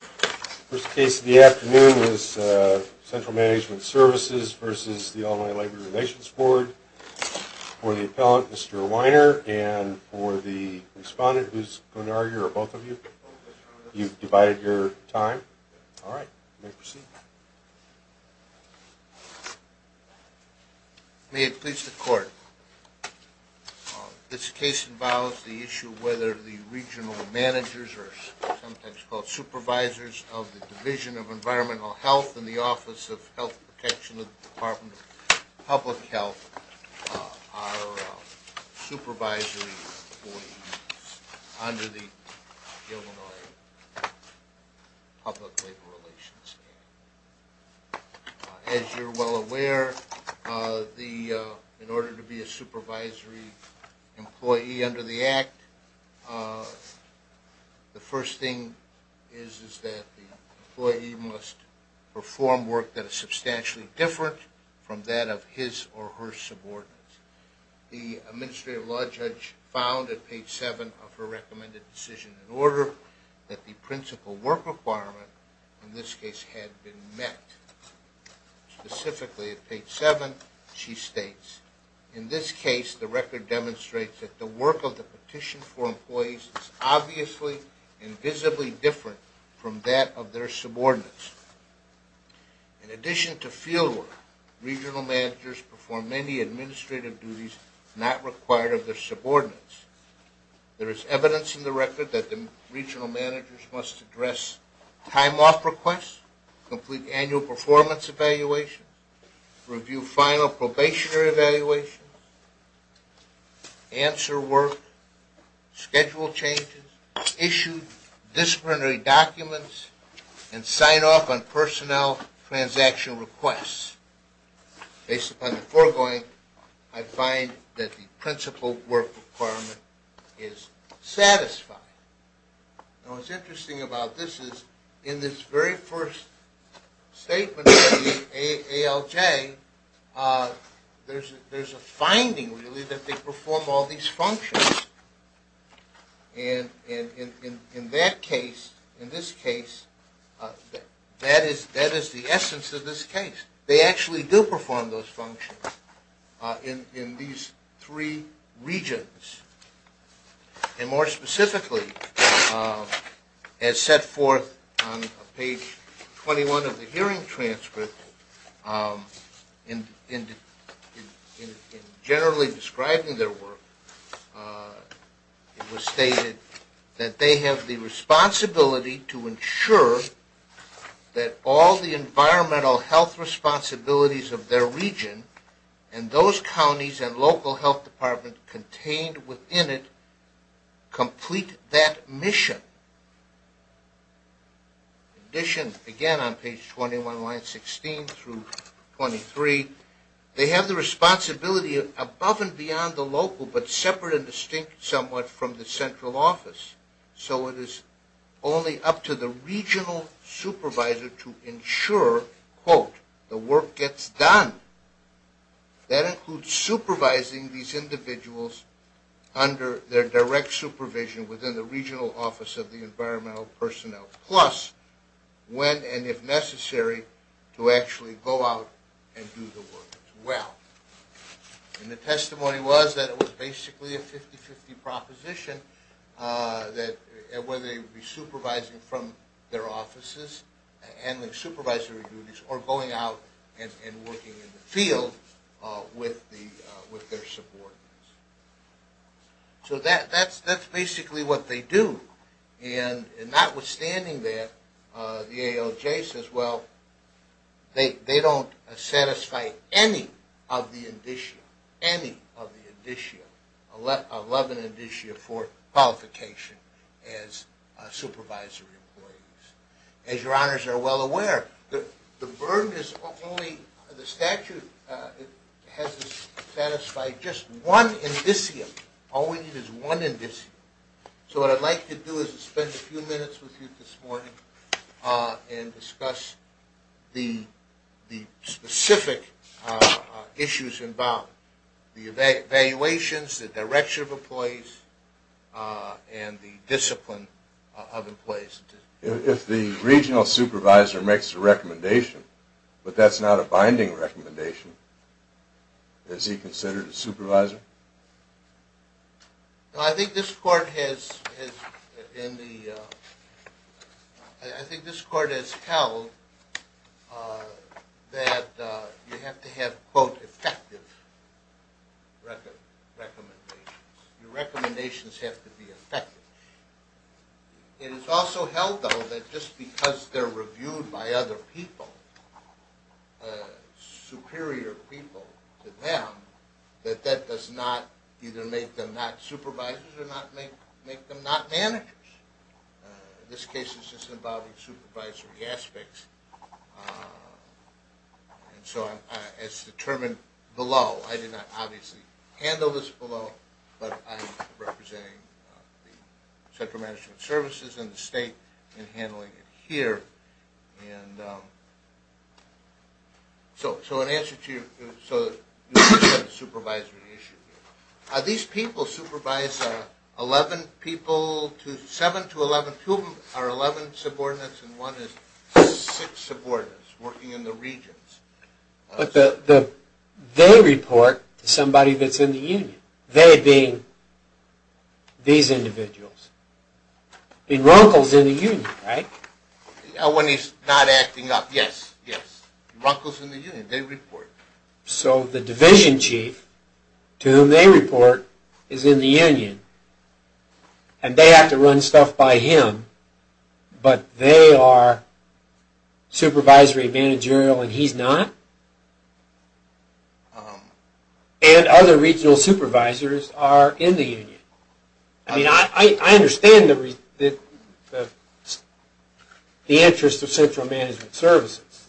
First case of the afternoon is Central Management Services v. Illinois Labor Relations Board. For the appellant, Mr. Weiner, and for the respondent, who's going to argue, or both of you, you've divided your time. All right, you may proceed. May it please the Court, This case involves the issue of whether the regional managers, or sometimes called supervisors, of the Division of Environmental Health and the Office of Health Protection of the Department of Public Health are supervisory employees under the Illinois Public Labor Relations Act. As you're well aware, in order to be a supervisory employee under the Act, the first thing is that the employee must perform work that is substantially different from that of his or her subordinates. The Administrative Law Judge found at page 7 of her recommended decision in order that the principal work requirement in this case had been met. Specifically at page 7, she states, In this case, the record demonstrates that the work of the petition for employees is obviously and visibly different from that of their subordinates. In addition to fieldwork, regional managers perform many administrative duties not required of their subordinates. There is evidence in the record that the regional managers must address time-off requests, complete annual performance evaluations, review final probationary evaluations, answer work, schedule changes, issue disciplinary documents, and sign off on personnel transaction requests. Based upon the foregoing, I find that the principal work requirement is satisfied. Now what's interesting about this is in this very first statement of the ALJ, there's a finding really that they perform all these functions. And in that case, in this case, that is the essence of this case. They actually do perform those functions in these three regions. And more specifically, as set forth on page 21 of the hearing transcript, in generally describing their work, it was stated that they have the responsibility to ensure that all the environmental health responsibilities of their region and those counties and local health departments contained within it complete that mission. In addition, again on page 21, line 16 through 23, they have the responsibility above and beyond the local but separate and distinct somewhat from the central office. So it is only up to the regional supervisor to ensure, quote, the work gets done. That includes supervising these individuals under their direct supervision within the regional office of the environmental personnel, plus when and if necessary to actually go out and do the work as well. And the testimony was that it was basically a 50-50 proposition that whether they would be supervising from their offices, handling supervisory duties, or going out and working in the field with their subordinates. So that's basically what they do. And notwithstanding that, the ALJ says, well, they don't satisfy any of the indicia, 11 indicia for qualification as supervisory employees. As your honors are well aware, the statute has satisfied just one indicium. All we need is one indicium. So what I'd like to do is spend a few minutes with you this morning and discuss the specific issues involved. The evaluations, the direction of employees, and the discipline of employees. If the regional supervisor makes a recommendation, but that's not a binding recommendation, is he considered a supervisor? I think this court has held that you have to have, quote, effective recommendations. Your recommendations have to be effective. It is also held, though, that just because they're reviewed by other people, superior people to them, that that does not either make them not supervisors or make them not managers. This case is just about the supervisory aspects. And so it's determined below. I did not obviously handle this below, but I'm representing the central management services and the state in handling it here. And so in answer to your question on the supervisory issue, are these people supervised? Seven to 11, two of them are 11 subordinates and one is six subordinates working in the regions. But they report to somebody that's in the union, they being these individuals, being locals in the union, right? When he's not acting up, yes, yes. Locals in the union, they report. So the division chief to whom they report is in the union, and they have to run stuff by him, but they are supervisory, managerial, and he's not? And other regional supervisors are in the union. I mean, I understand the interest of central management services,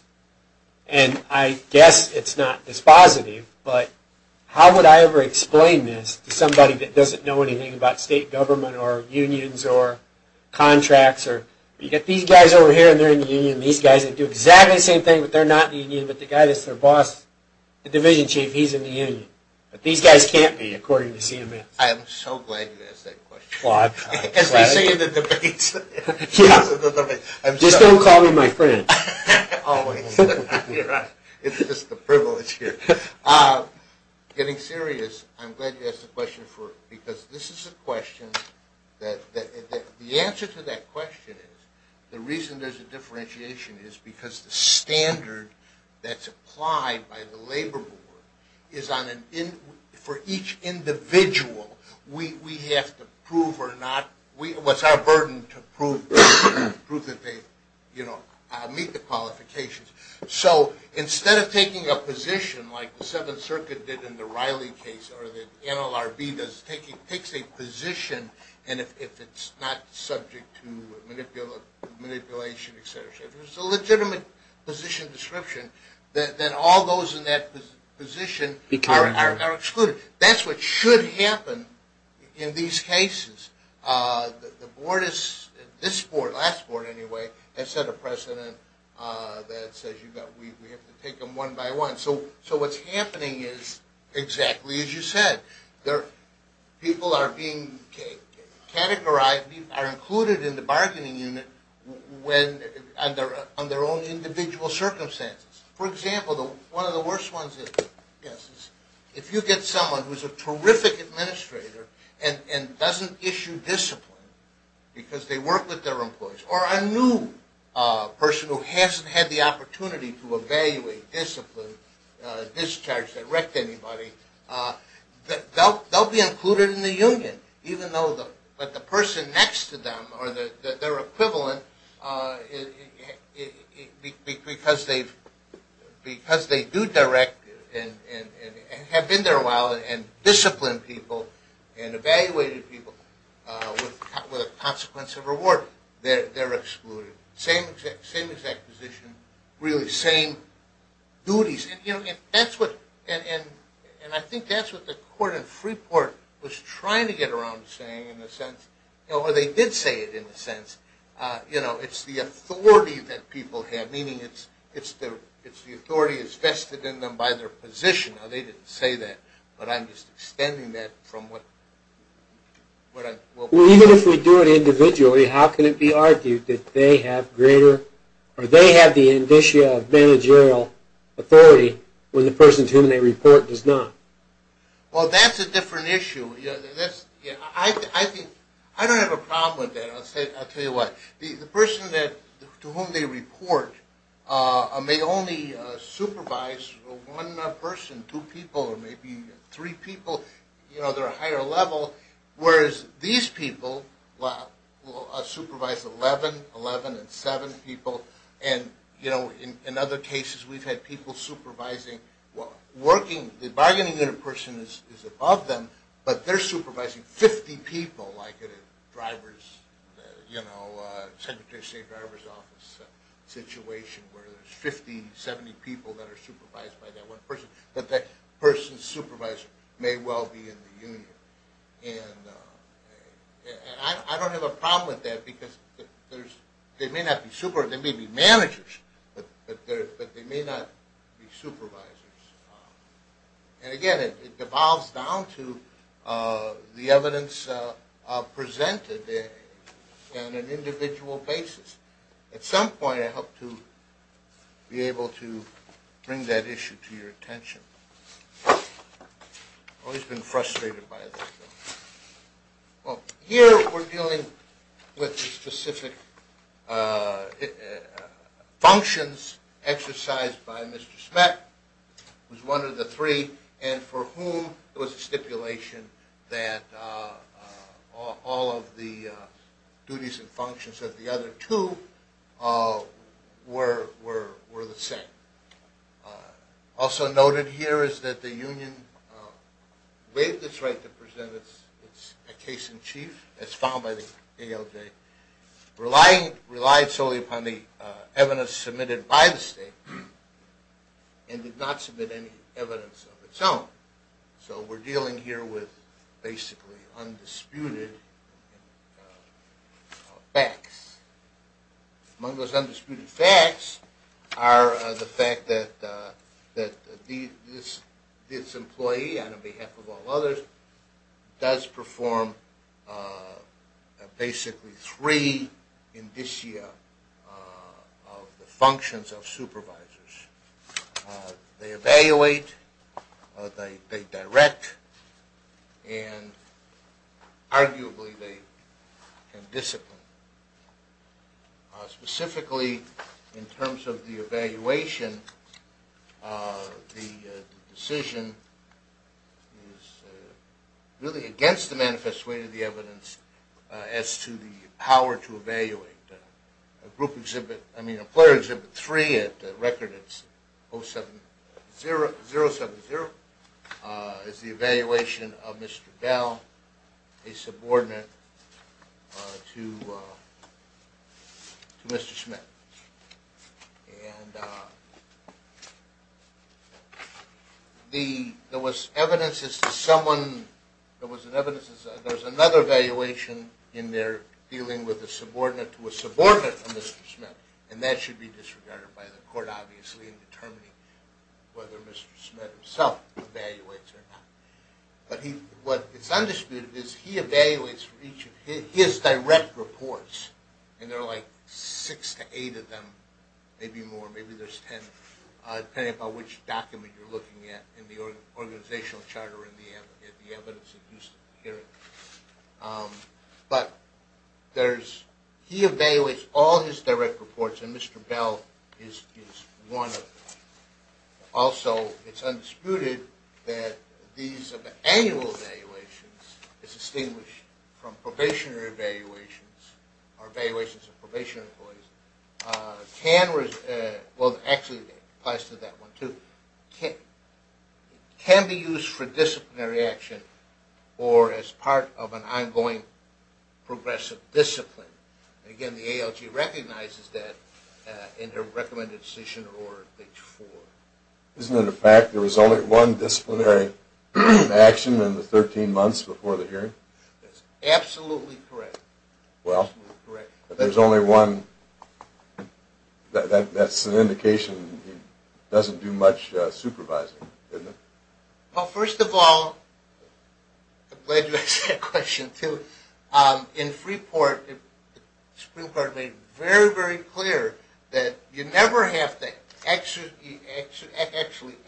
and I guess it's not dispositive, but how would I ever explain this to somebody that doesn't know anything about state government or unions or contracts? You've got these guys over here, and they're in the union, and these guys that do exactly the same thing, but they're not in the union, but the guy that's their boss, the division chief, he's in the union. But these guys can't be, according to CMS. I am so glad you asked that question. As they say in the debates. Just don't call me my friend. Always. It's just a privilege here. Getting serious, I'm glad you asked the question, because this is a question that, the answer to that question is the reason there's a differentiation is because the standard that's applied by the Labor Board for each individual, we have to prove or not, it's our burden to prove that they meet the qualifications. So instead of taking a position like the Seventh Circuit did in the Riley case, or the NLRB does, takes a position, and if it's not subject to manipulation, et cetera, if it's a legitimate position description, then all those in that position are excluded. That's what should happen in these cases. The board is, this board, last board anyway, has set a precedent that says we have to take them one by one. So what's happening is exactly as you said. People are being categorized, are included in the bargaining unit on their own individual circumstances. For example, one of the worst ones is if you get someone who's a terrific administrator and doesn't issue discipline because they work with their employees, or a new person who hasn't had the opportunity to evaluate discipline, discharge, direct anybody, they'll be included in the union. But the person next to them, or their equivalent, because they do direct and have been there a while and discipline people and evaluated people with a consequence of reward, they're excluded. Same exact position, really same duties. And I think that's what the court in Freeport was trying to get around to saying in a sense, or they did say it in a sense, it's the authority that people have, meaning it's the authority that's vested in them by their position. Now, they didn't say that, but I'm just extending that from what I... Well, even if we do it individually, how can it be argued that they have greater, or they have the indicia of managerial authority when the person to whom they report does not? Well, that's a different issue. I don't have a problem with that, I'll tell you what. The person to whom they report may only supervise one person, two people, or maybe three people, they're a higher level, whereas these people supervise 11, 11 and 7 people, and in other cases we've had people supervising, the bargaining unit person is above them, but they're supervising 50 people, like in a secretary of state driver's office situation where there's 50, 70 people that are supervised by that one person. But that person's supervisor may well be in the union. And I don't have a problem with that because they may not be supervisors, they may be managers, but they may not be supervisors. And again, it devolves down to the evidence presented in an individual basis. At some point I hope to be able to bring that issue to your attention. I've always been frustrated by this. Well, here we're dealing with the specific functions exercised by Mr. Smet, who's one of the three, and for whom there was a stipulation that all of the duties and functions of the other two were the same. Also noted here is that the union waived its right to present its case in chief, as found by the ALJ, relied solely upon the evidence submitted by the state, and did not submit any evidence of its own. So we're dealing here with basically undisputed facts. Among those undisputed facts are the fact that this employee, on behalf of all others, does perform basically three indicia of the functions of supervisors. They evaluate, they direct, and arguably they can discipline. Specifically in terms of the evaluation, the decision is really against the manifest weight of the evidence as to the power to evaluate. Employer Exhibit 3 at record 07070 is the evaluation of Mr. Dell, a subordinate to Mr. Smet. And there was evidence as to someone, there was another evaluation in there dealing with a subordinate to a subordinate of Mr. Smet, and that should be disregarded by the court, obviously, in determining whether Mr. Smet himself evaluates or not. What is undisputed is he evaluates his direct reports, and there are like six to eight of them, maybe more, maybe there's ten, depending on which document you're looking at in the organizational charter in the evidence-induced hearing. But he evaluates all his direct reports, and Mr. Bell is one of them. Also, it's undisputed that these annual evaluations, distinguished from probationary evaluations, or evaluations of probation employees, can be used for disciplinary action or as part of an ongoing progressive discipline. And again, the ALG recognizes that in her recommended decision or page four. Isn't it a fact there was only one disciplinary action in the 13 months before the hearing? That's absolutely correct. Well, if there's only one, that's an indication he doesn't do much supervising, isn't it? Well, first of all, I'm glad you asked that question, too. In Freeport, the Supreme Court made very, very clear that you never have to actually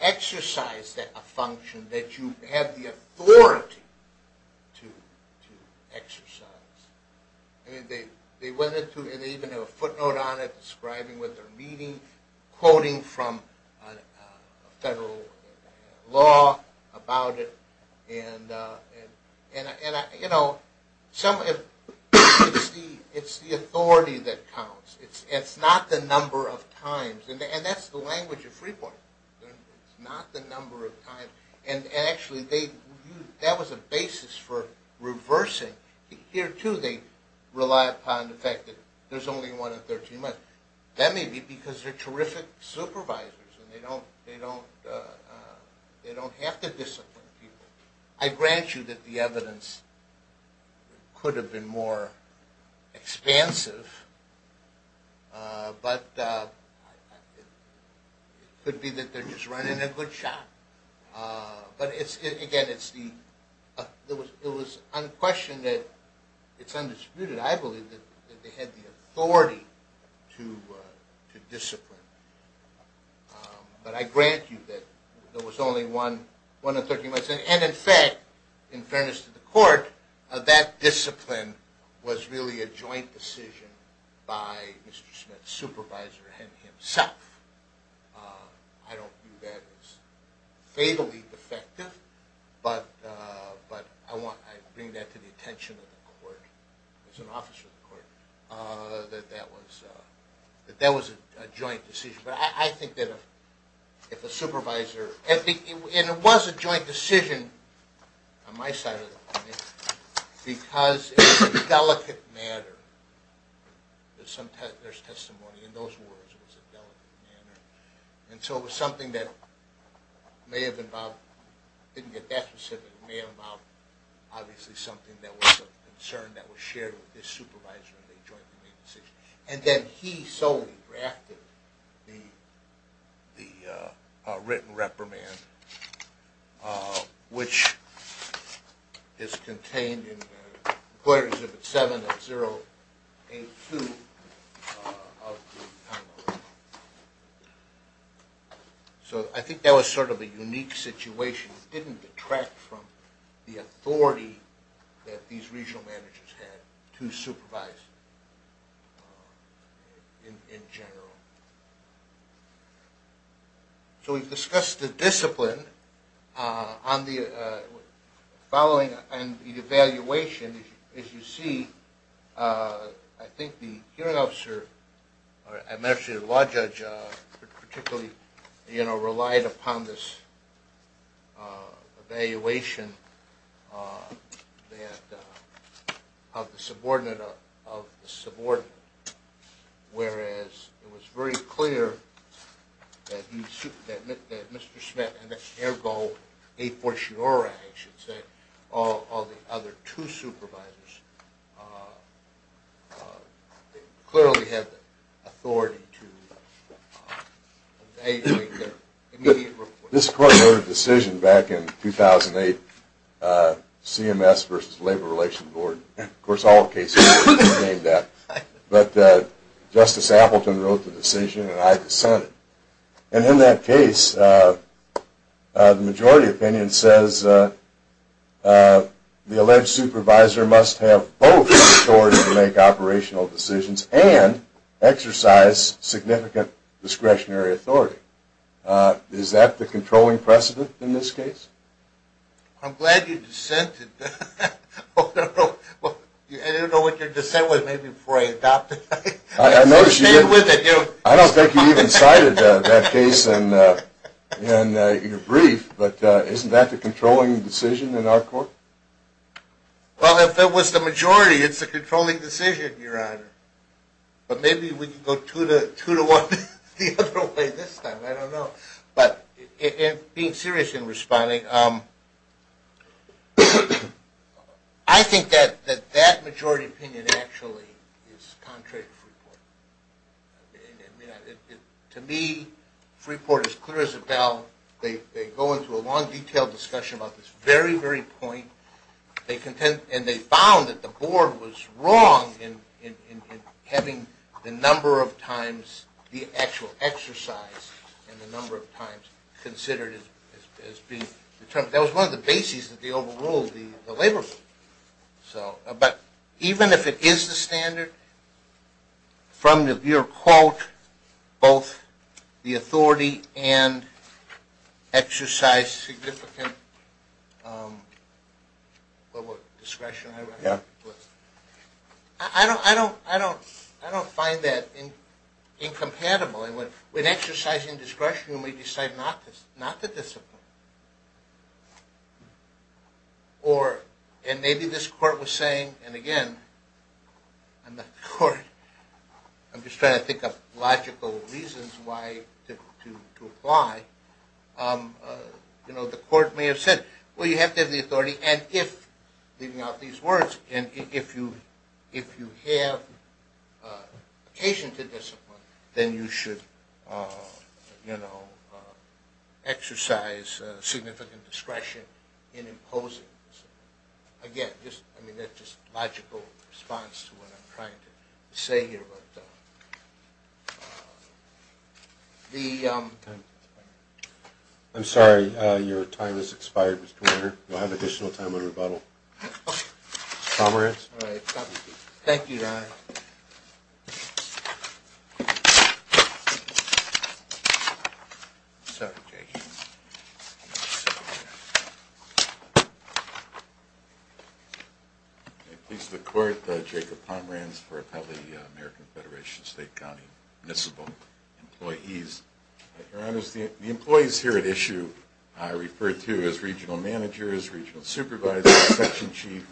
exercise a function that you have the authority to exercise. They even have a footnote on it describing what they're reading, quoting from federal law about it. It's the authority that counts. It's not the number of times. And that's the language of Freeport. It's not the number of times. And actually, that was a basis for reversing. Here, too, they rely upon the fact that there's only one in 13 months. That may be because they're terrific supervisors and they don't have to discipline people. I grant you that the evidence could have been more expansive, but it could be that they're just running a good shot. But again, it was unquestioned that it's undisputed, I believe, that they had the authority to discipline. But I grant you that there was only one in 13 months. And in fact, in fairness to the court, that discipline was really a joint decision by Mr. Smith's supervisor himself. I don't view that as fatally defective, but I bring that to the attention of the court, as an officer of the court, that that was a joint decision. But I think that if a supervisor... And it was a joint decision on my side of the company, because it was a delicate matter. There's testimony in those words. It was a delicate matter. And so it was something that may have involved... I didn't get that specific. It may have involved, obviously, something that was a concern that was shared with this supervisor in the joint decision. And then he solely drafted the written reprimand, which is contained in Quarters Exhibit 7 of 082 of the Convolution. So I think that was sort of a unique situation. It didn't detract from the authority that these regional managers had to supervise in general. So we've discussed the discipline. On the evaluation, as you see, I think the hearing officer, or I imagine the law judge, particularly relied upon this evaluation of the subordinate. Whereas it was very clear that Mr. Schmidt and Ergo a fortiori, I should say, all the other two supervisors clearly had the authority to evaluate their immediate report. This court wrote a decision back in 2008, CMS versus Labor Relations Board. Of course, all the cases contained that. But Justice Appleton wrote the decision, and I dissented. And in that case, the majority opinion says the alleged supervisor must have both authority to make operational decisions and exercise significant discretionary authority. Is that the controlling precedent in this case? I'm glad you dissented. I don't know what your dissent was, maybe before I adopted it. I don't think you even cited that case in your brief. But isn't that the controlling decision in our court? Well, if it was the majority, it's the controlling decision, Your Honor. But maybe we can go two to one the other way this time, I don't know. But being serious in responding, I think that that majority opinion actually is contrary to Freeport. To me, Freeport is clear as a bell. They go into a long, detailed discussion about this very, very point. And they found that the board was wrong in having the number of times the actual exercise and the number of times considered as being determined. That was one of the bases that they overruled the labor group. But even if it is the standard from your quote, both the authority and exercise significant discretion, I don't find that incompatible. When exercising discretion, you may decide not to discipline. And maybe this court was saying, and again, I'm not the court, I'm just trying to think of logical reasons why to apply. You know, the court may have said, well, you have to have the authority, and if, leaving out these words, and if you have occasion to discipline, then you should, you know, exercise significant discretion in imposing. Again, I mean, that's just logical response to what I'm trying to say here. I'm sorry, your time has expired, Mr. Warner. You'll have additional time on rebuttal. Pomerantz. Thank you, Your Honor. I'm sorry, Jacob. I please the court, Jacob Pomerantz, for appellate of the American Federation of State, County, and Municipal Employees. Your Honor, the employees here at issue are referred to as regional managers, regional supervisors, section chief,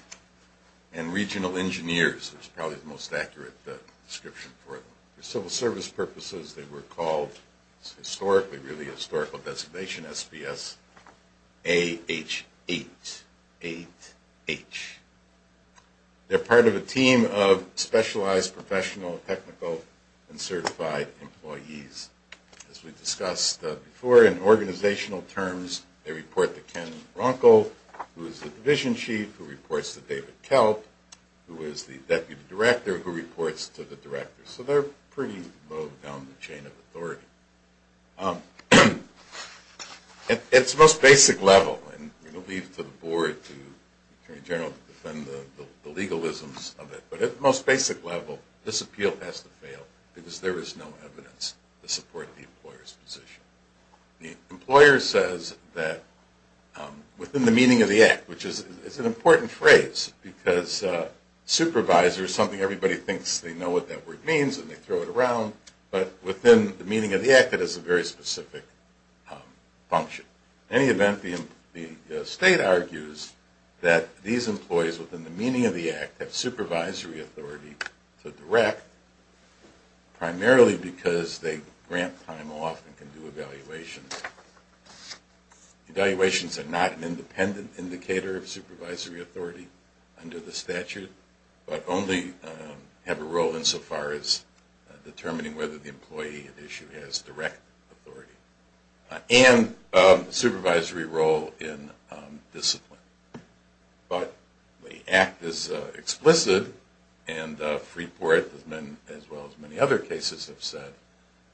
and regional engineers, which is probably the most accurate description for them. For civil service purposes, they were called, it's historically, really, a historical designation, SPS-A-H-8-8-H. They're part of a team of specialized professional, technical, and certified employees. As we discussed before, in organizational terms, they report to Ken Bronco, who is the division chief, who reports to David Kelp, who is the deputy director, who reports to the director. So they're pretty low down the chain of authority. At its most basic level, and we'll leave it to the board, to the attorney general, to defend the legalisms of it, but at the most basic level, this appeal has to fail because there is no evidence to support the employer's position. The employer says that, within the meaning of the act, which is an important phrase, because supervisor is something everybody thinks they know what that word means and they throw it around, but within the meaning of the act, it has a very specific function. In any event, the state argues that these employees, within the meaning of the act, have supervisory authority to direct, primarily because they grant time off and can do evaluations. Evaluations are not an independent indicator of supervisory authority under the statute, but only have a role insofar as determining whether the employee at issue has direct authority, and a supervisory role in discipline. But the act is explicit, and Freeport, as well as many other cases have said,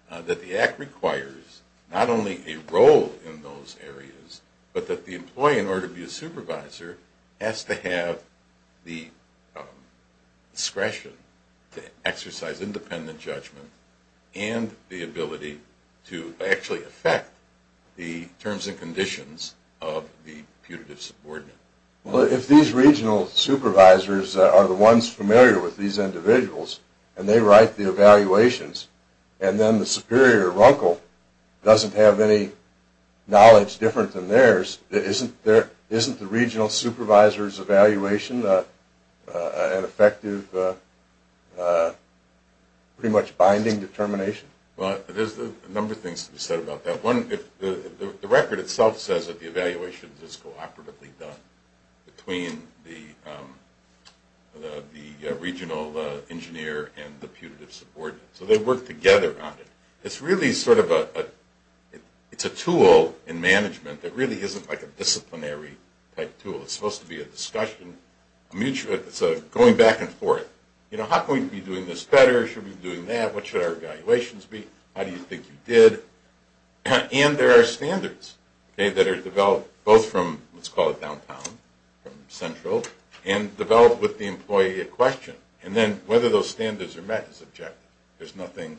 that the act requires not only a role in those areas, but that the employee, in order to be a supervisor, has to have the discretion to exercise independent judgment and the ability to actually affect the terms and conditions of the putative subordinate. Well, if these regional supervisors are the ones familiar with these individuals and they write the evaluations and then the superior, Runkle, doesn't have any knowledge different than theirs, isn't the regional supervisor's evaluation an effective, pretty much binding determination? Well, there's a number of things to be said about that. One, the record itself says that the evaluation is cooperatively done between the regional engineer and the putative subordinate, so they work together on it. It's really sort of a tool in management that really isn't like a disciplinary type tool. It's supposed to be a discussion, going back and forth. You know, how can we be doing this better? Should we be doing that? What should our evaluations be? How do you think you did? And there are standards that are developed both from, let's call it downtown, from central, and developed with the employee at question. And then whether those standards are met is objective. There's nothing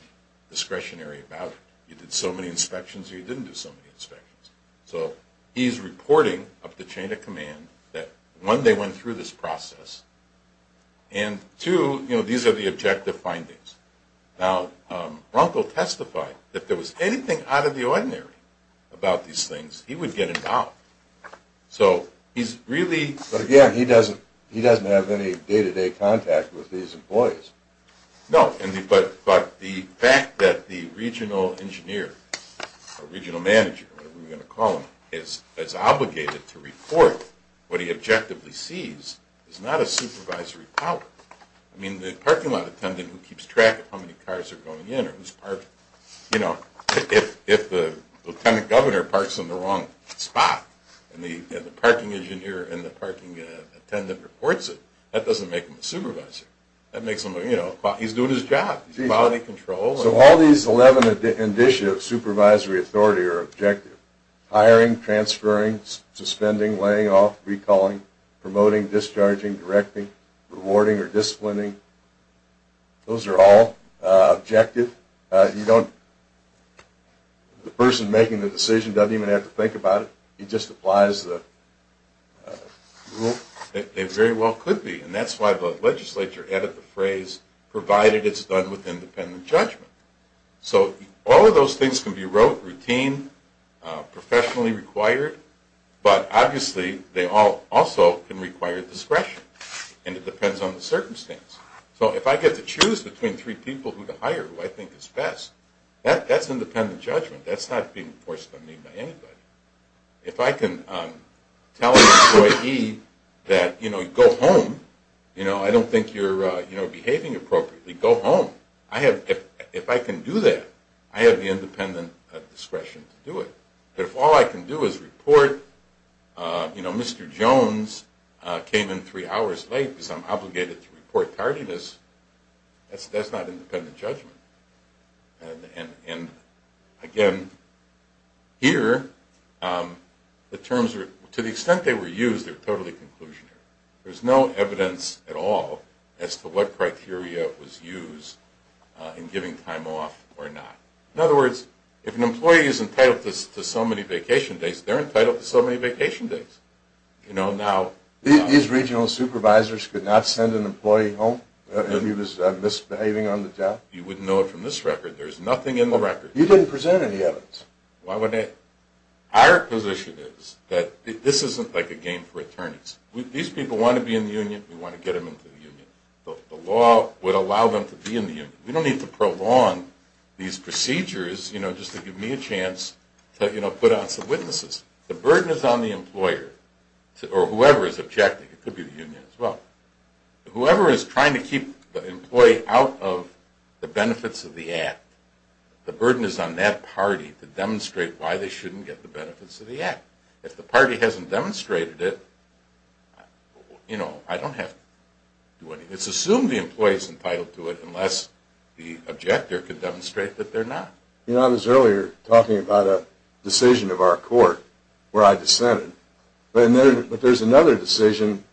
discretionary about it. You did so many inspections or you didn't do so many inspections. So he's reporting up the chain of command that one, they went through this process, and two, you know, these are the objective findings. Now, Runkle testified that if there was anything out of the ordinary about these things, he would get involved. So he's really – But again, he doesn't have any day-to-day contact with these employees. No. But the fact that the regional engineer or regional manager, whatever we're going to call him, is obligated to report what he objectively sees is not a supervisory power. I mean, the parking lot attendant who keeps track of how many cars are going in or who's parking. You know, if the lieutenant governor parks in the wrong spot and the parking engineer and the parking attendant reports it, that doesn't make them a supervisor. That makes them – you know, he's doing his job. He's in quality control. So all these 11 initiatives, supervisory, authority, or objective, hiring, transferring, suspending, laying off, recalling, promoting, discharging, directing, rewarding, or disciplining, those are all objective. You don't – the person making the decision doesn't even have to think about it. He just applies the rule. They very well could be, and that's why the legislature added the phrase, provided it's done with independent judgment. So all of those things can be routine, professionally required, but obviously they also can require discretion, and it depends on the circumstance. So if I get to choose between three people who to hire who I think is best, that's independent judgment. That's not being enforced on me by anybody. If I can tell employee E that, you know, go home. You know, I don't think you're behaving appropriately. Go home. If I can do that, I have the independent discretion to do it. But if all I can do is report, you know, Mr. Jones came in three hours late because I'm obligated to report tardiness, that's not independent judgment. And, again, here the terms are – to the extent they were used, they're totally conclusionary. There's no evidence at all as to what criteria was used in giving time off or not. In other words, if an employee is entitled to so many vacation days, they're entitled to so many vacation days. You know, now – These regional supervisors could not send an employee home if he was misbehaving on the job? You wouldn't know it from this record. There's nothing in the record. You didn't present any evidence. Why would I? Our position is that this isn't like a game for attorneys. These people want to be in the union. We want to get them into the union. The law would allow them to be in the union. We don't need to prolong these procedures, you know, just to give me a chance to, you know, put out some witnesses. The burden is on the employer or whoever is objecting. It could be the union as well. Whoever is trying to keep the employee out of the benefits of the act, the burden is on that party to demonstrate why they shouldn't get the benefits of the act. If the party hasn't demonstrated it, you know, I don't have to do anything. It's assumed the employee is entitled to it unless the objector can demonstrate that they're not. You know, I was earlier talking about a decision of our court where I dissented. But there's another decision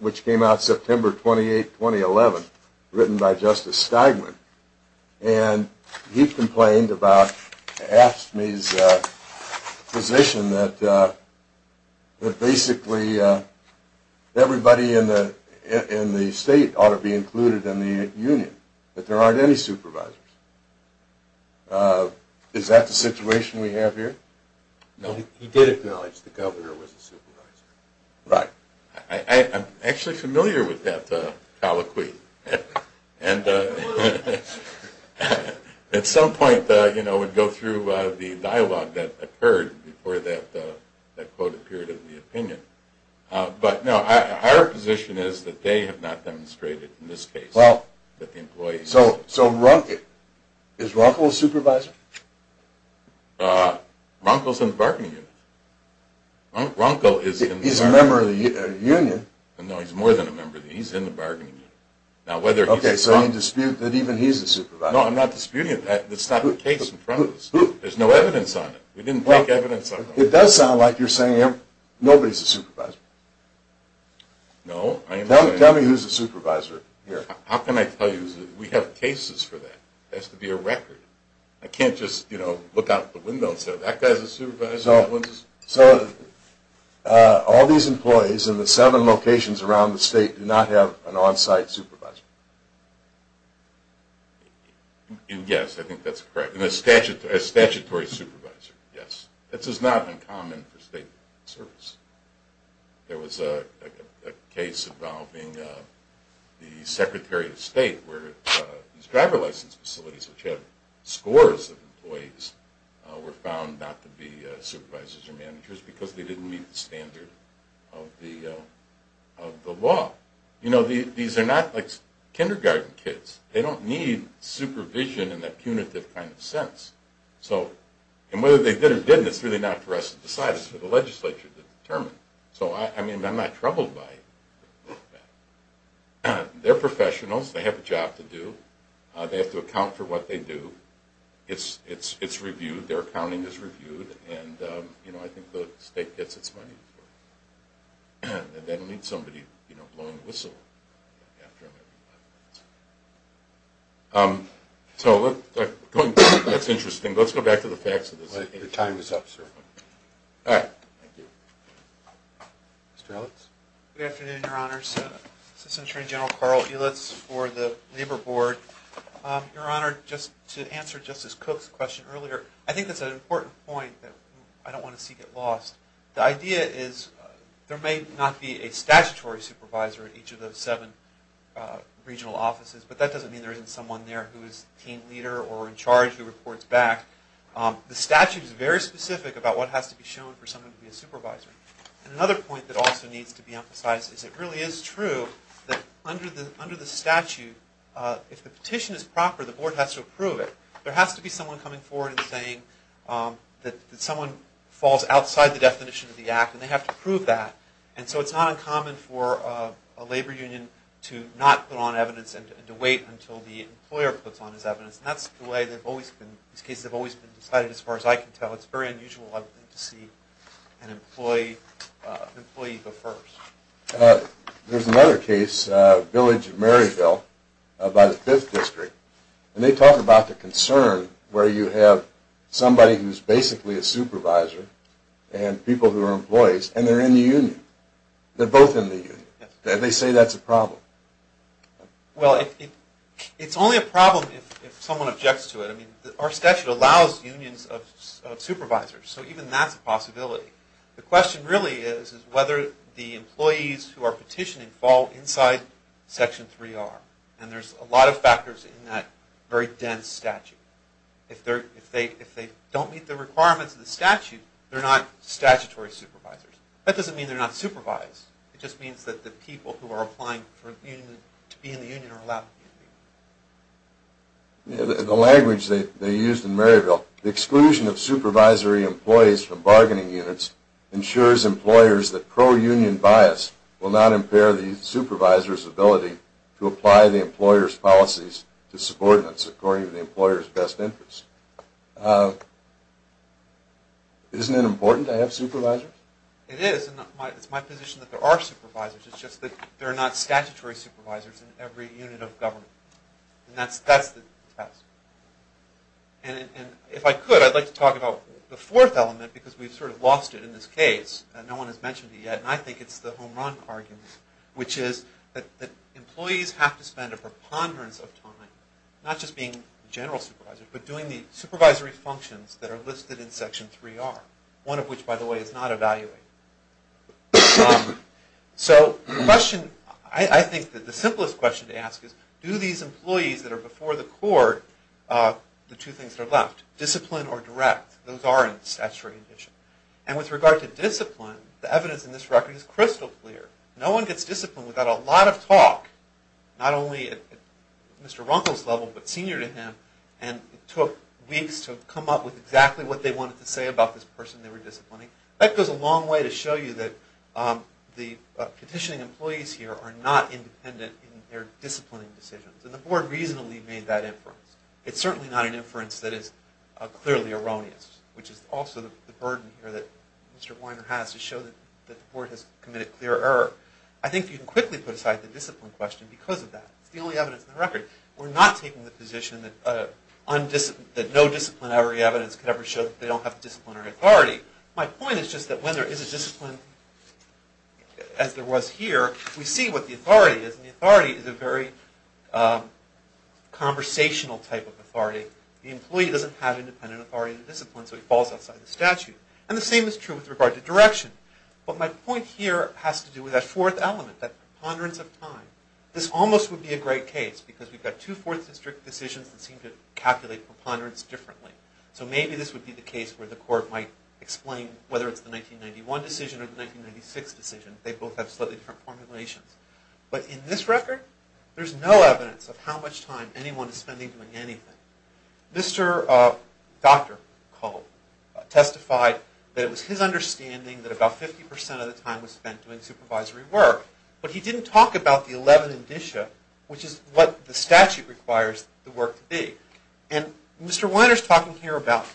which came out September 28, 2011, written by Justice Steigman, and he complained about AFSCME's position that basically everybody in the state ought to be included in the union, that there aren't any supervisors. Is that the situation we have here? No. He did acknowledge the governor was a supervisor. Right. I'm actually familiar with that colloquy. And at some point, you know, we'd go through the dialogue that occurred before that quoted period of the opinion. But, no, our position is that they have not demonstrated in this case that the employees… So Runkle, is Runkle a supervisor? Runkle's in the bargaining unit. Runkle is a member of the union. No, he's more than a member of the union. He's in the bargaining unit. Okay, so you dispute that even he's a supervisor. No, I'm not disputing that. That's not the case in front of us. There's no evidence on it. We didn't take evidence on it. It does sound like you're saying nobody's a supervisor. No. Tell me who's a supervisor here. How can I tell you? We have cases for that. It has to be a record. I can't just, you know, look out the window and say, that guy's a supervisor, that one's… So all these employees in the seven locations around the state do not have an on-site supervisor? Yes, I think that's correct. And a statutory supervisor, yes. This is not uncommon for state service. There was a case involving the secretary of state where these driver license facilities, which have scores of employees, were found not to be supervisors or managers because they didn't meet the standard of the law. You know, these are not like kindergarten kids. They don't need supervision in that punitive kind of sense. And whether they did or didn't, it's really not for us to decide. It's for the legislature to determine. So, I mean, I'm not troubled by that. They're professionals. They have a job to do. They have to account for what they do. It's reviewed. Their accounting is reviewed. And, you know, I think the state gets its money's worth. They don't need somebody, you know, blowing a whistle after them every five minutes. So, that's interesting. Let's go back to the facts of this. Your time is up, sir. All right. Thank you. Mr. Ellis? Good afternoon, Your Honors. Assistant Attorney General Carl Ellis for the Labor Board. Your Honor, just to answer Justice Cook's question earlier, I think that's an important point that I don't want to see get lost. The idea is there may not be a statutory supervisor in each of those seven regional offices, but that doesn't mean there isn't someone there who is a team leader or in charge who reports back. The statute is very specific about what has to be shown for someone to be a supervisor. And another point that also needs to be emphasized is it really is true that under the statute, if the petition is proper, the board has to approve it. There has to be someone coming forward and saying that someone falls outside the definition of the act, and they have to prove that. And so it's not uncommon for a labor union to not put on evidence and to wait until the employer puts on his evidence. And that's the way they've always been. These cases have always been decided, as far as I can tell. It's very unusual to see an employee go first. There's another case, Village of Maryville, by the 5th District. And they talk about the concern where you have somebody who's basically a supervisor and people who are employees, and they're in the union. They're both in the union. They say that's a problem. Well, it's only a problem if someone objects to it. I mean, our statute allows unions of supervisors, so even that's a possibility. The question really is whether the employees who are petitioning fall inside Section 3R. And there's a lot of factors in that very dense statute. If they don't meet the requirements of the statute, they're not statutory supervisors. That doesn't mean they're not supervised. It just means that the people who are applying to be in the union are allowed to be in the union. The language they used in Maryville, the exclusion of supervisory employees from bargaining units ensures employers that pro-union bias will not impair the supervisor's ability to apply the employer's policies to subordinates according to the employer's best interest. Isn't it important to have supervisors? It is. It's my position that there are supervisors. It's just that there are not statutory supervisors in every unit of government. And that's the test. And if I could, I'd like to talk about the fourth element because we've sort of lost it in this case. No one has mentioned it yet, and I think it's the home run argument, which is that employees have to spend a preponderance of time, not just being general supervisors, but doing the supervisory functions that are listed in Section 3R, one of which, by the way, is not evaluated. So the question, I think the simplest question to ask is, do these employees that are before the court, the two things that are left, discipline or direct, those are in the statutory condition. And with regard to discipline, the evidence in this record is crystal clear. No one gets disciplined without a lot of talk, not only at Mr. Runkle's level but senior to him, and it took weeks to come up with exactly what they wanted to say about this person they were disciplining. That goes a long way to show you that the petitioning employees here are not independent in their disciplining decisions. And the Board reasonably made that inference. It's certainly not an inference that is clearly erroneous, which is also the burden here that Mr. Weiner has to show that the Board has committed clear error. I think you can quickly put aside the discipline question because of that. It's the only evidence in the record. We're not taking the position that no disciplinary evidence could ever show that they don't have disciplinary authority. My point is just that when there is a discipline, as there was here, we see what the authority is, and the authority is a very conversational type of authority. The employee doesn't have independent authority in the discipline, so he falls outside the statute. And the same is true with regard to direction. But my point here has to do with that fourth element, that preponderance of time. This almost would be a great case because we've got two Fourth District decisions that seem to calculate preponderance differently. So maybe this would be the case where the Court might explain whether it's the 1991 decision or the 1996 decision. They both have slightly different formulations. But in this record, there's no evidence of how much time anyone is spending doing anything. Mr. Dr. Cole testified that it was his understanding that about 50% of the time was spent doing supervisory work. But he didn't talk about the 11 indicia, which is what the statute requires the work to be. And Mr. Weiner is talking here about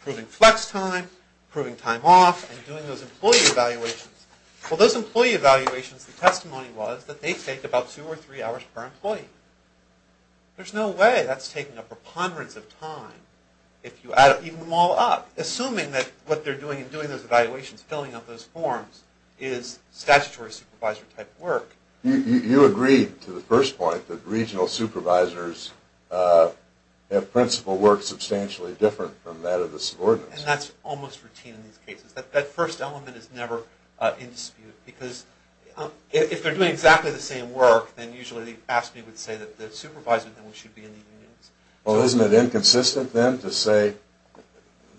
proving flex time, proving time off, and doing those employee evaluations. Well, those employee evaluations, the testimony was that they take about two or three hours per employee. There's no way that's taking a preponderance of time if you add them all up. Assuming that what they're doing in doing those evaluations, filling out those forms, is statutory supervisor type work. You agreed to the first point that regional supervisors have principal work substantially different from that of the subordinates. And that's almost routine in these cases. That first element is never in dispute because if they're doing exactly the same work, then usually the AFSCME would say that the supervisor should be in the unions. Well, isn't it inconsistent then to say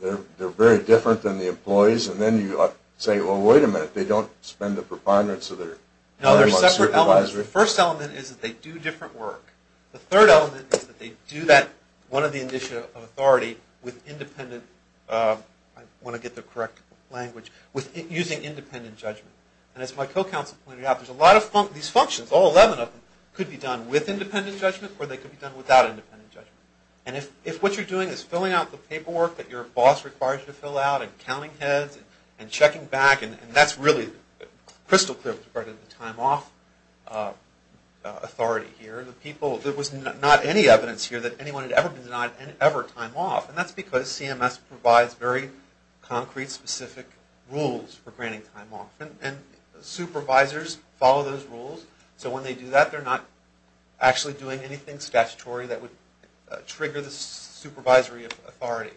they're very different than the employees and then you say, well, wait a minute, they don't spend the preponderance of their supervisor? No, there's separate elements. The first element is that they do different work. The third element is that they do that one of the indicia of authority with independent, I want to get the correct language, with using independent judgment. And as my co-counsel pointed out, there's a lot of these functions, all 11 of them, could be done with independent judgment or they could be done without independent judgment. And if what you're doing is filling out the paperwork that your boss requires you to fill out and counting heads and checking back, and that's really crystal clear with regard to the time off authority here. There was not any evidence here that anyone had ever been denied ever time off. And that's because CMS provides very concrete, specific rules for granting time off. And supervisors follow those rules. So when they do that, they're not actually doing anything statutory that would trigger the supervisory authority.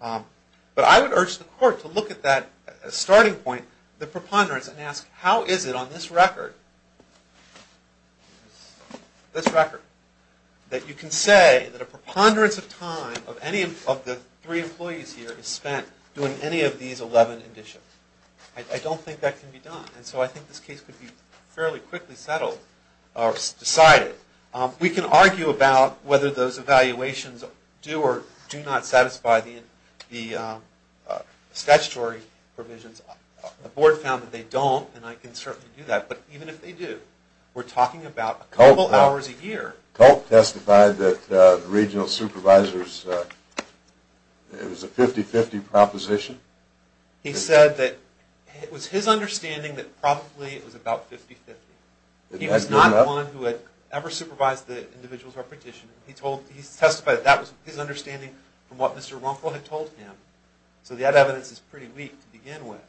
But I would urge the court to look at that starting point, the preponderance, and ask how is it on this record, this record, that you can say that a preponderance of time of any of the three employees here is spent doing any of these 11 indicia. I don't think that can be done. And so I think this case could be fairly quickly settled or decided. We can argue about whether those evaluations do or do not satisfy the statutory provisions. The board found that they don't, and I can certainly do that. But even if they do, we're talking about a couple hours a year. Culp testified that the regional supervisors, it was a 50-50 proposition. He said that it was his understanding that probably it was about 50-50. He was not the one who had ever supervised the individual's repetition. He testified that that was his understanding from what Mr. Runkle had told him. So that evidence is pretty weak to begin with.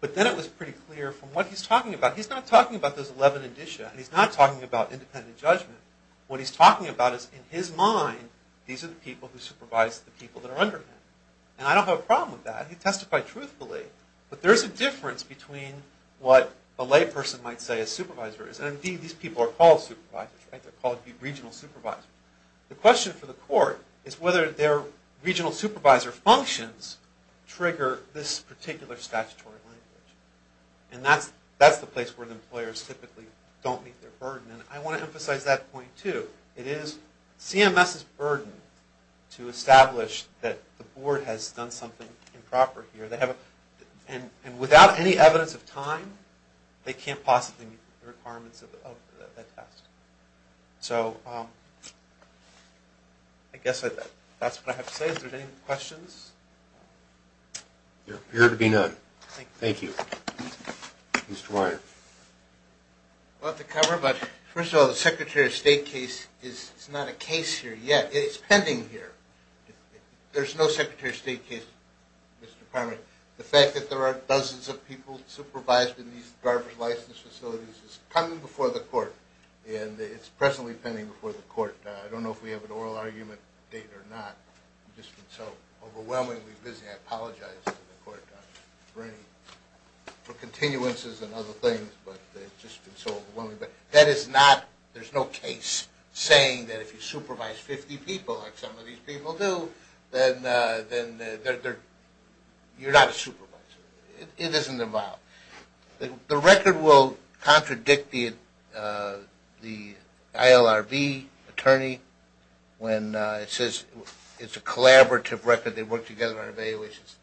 But then it was pretty clear from what he's talking about. He's not talking about those 11 indicia. He's not talking about independent judgment. What he's talking about is in his mind, these are the people who supervise the people that are under him. And I don't have a problem with that. He testified truthfully. But there is a difference between what a layperson might say a supervisor is. And indeed, these people are called supervisors. They're called regional supervisors. The question for the court is whether their regional supervisor functions trigger this particular statutory language. And that's the place where the employers typically don't meet their burden. And I want to emphasize that point too. It is CMS's burden to establish that the board has done something improper here. And without any evidence of time, they can't possibly meet the requirements of that test. So I guess that's what I have to say. Are there any questions? There appear to be none. Thank you. Thank you. Mr. Weiner. I'll have to cover. But first of all, the Secretary of State case is not a case here yet. It's pending here. There's no Secretary of State case, Mr. Parmer. The fact that there are dozens of people supervised in these driver's license facilities is coming before the court. And it's presently pending before the court. I don't know if we have an oral argument date or not. It's just been so overwhelmingly busy. I apologize to the court for continuances and other things. But it's just been so overwhelming. But that is not – there's no case saying that if you supervise 50 people like some of these people do, then you're not a supervisor. It isn't involved. The record will contradict the ILRB attorney when it says it's a collaborative record. They work together on evaluations.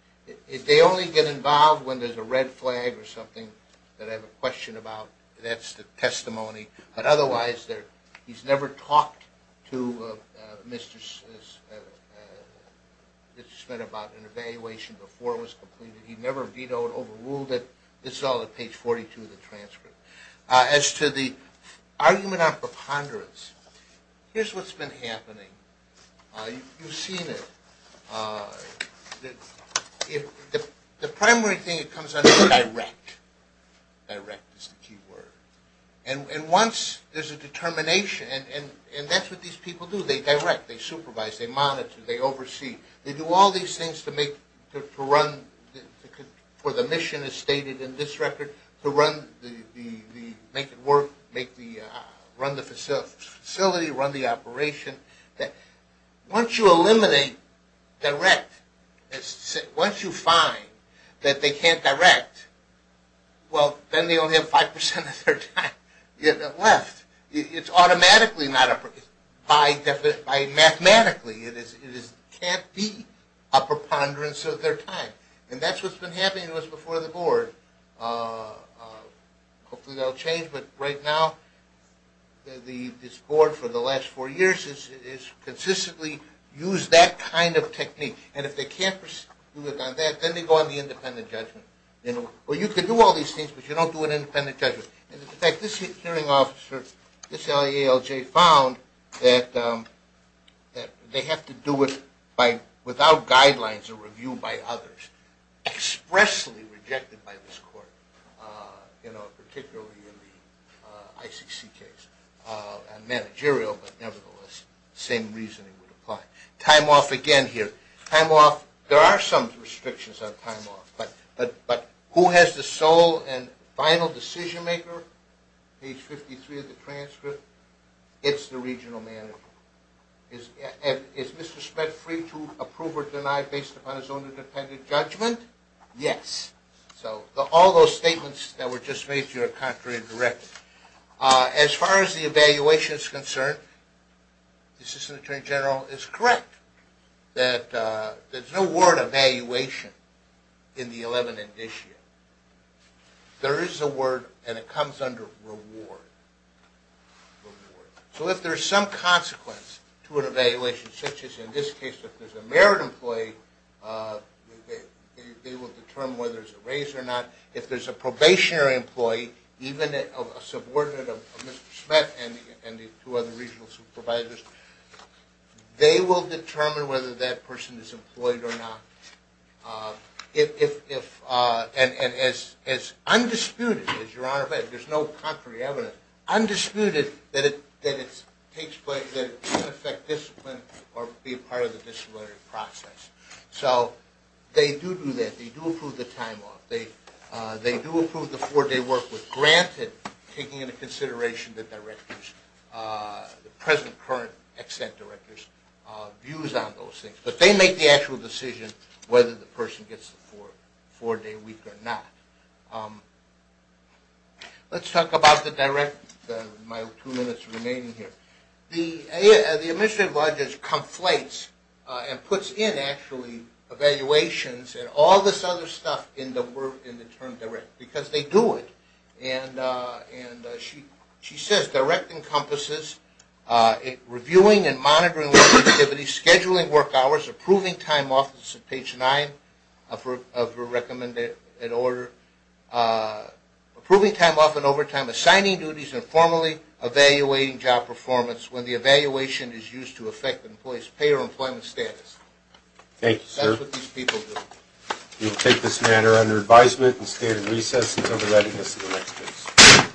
They only get involved when there's a red flag or something that I have a question about. That's the testimony. But otherwise, he's never talked to Mr. Schmidt about an evaluation before it was completed. He never vetoed or overruled it. This is all at page 42 of the transcript. As to the argument on preponderance, here's what's been happening. You've seen it. The primary thing that comes under direct. Direct is the key word. And once there's a determination, and that's what these people do. They direct. They supervise. They monitor. They oversee. They do all these things to make – to run – for the mission as stated in this record, to run the – make it work, make the – run the facility, run the operation. Once you eliminate direct, once you find that they can't direct, well, then they only have 5% of their time left. It's automatically not a – by mathematically, it can't be a preponderance of their time. And that's what's been happening to us before the board. Hopefully that will change, but right now, this board for the last four years has consistently used that kind of technique. And if they can't do it on that, then they go on the independent judgment. Or you can do all these things, but you don't do an independent judgment. In fact, this hearing officer, this LALJ, found that they have to do it by – without guidelines or review by others, expressly rejected by this court, you know, particularly in the ICC case. And managerial, but nevertheless, same reasoning would apply. Time off again here. Time off – there are some restrictions on time off. But who has the sole and final decision maker? Page 53 of the transcript. It's the regional manager. Is Mr. Spedt free to approve or deny based upon his own independent judgment? Yes. So all those statements that were just made to you are contrary to the record. As far as the evaluation is concerned, the assistant attorney general is correct. There's no word evaluation in the 11th edition. There is a word, and it comes under reward. So if there's some consequence to an evaluation, such as in this case if there's a merit employee, they will determine whether it's a raise or not. If there's a probationary employee, even a subordinate of Mr. Spedt and the two other regional supervisors, they will determine whether that person is employed or not. And as undisputed, as Your Honor said, there's no contrary evidence, undisputed, that it can affect discipline or be a part of the disciplinary process. So they do do that. They do approve the time off. They do approve the four-day work with granted, taking into consideration the present current extent director's views on those things. But they make the actual decision whether the person gets the four-day week or not. Let's talk about the direct, my two minutes remaining here. The administrative budget conflates and puts in, actually, evaluations and all this other stuff in the term direct, because they do it. And she says direct encompasses reviewing and monitoring activities, scheduling work hours, approving time off, this is page nine of her recommended order, approving time off and overtime, assigning duties informally, evaluating job performance when the evaluation is used to affect the employee's pay or employment status. Thank you, sir. That's what these people do. We'll take this matter under advisement and stay at recess until we're ready for the next case.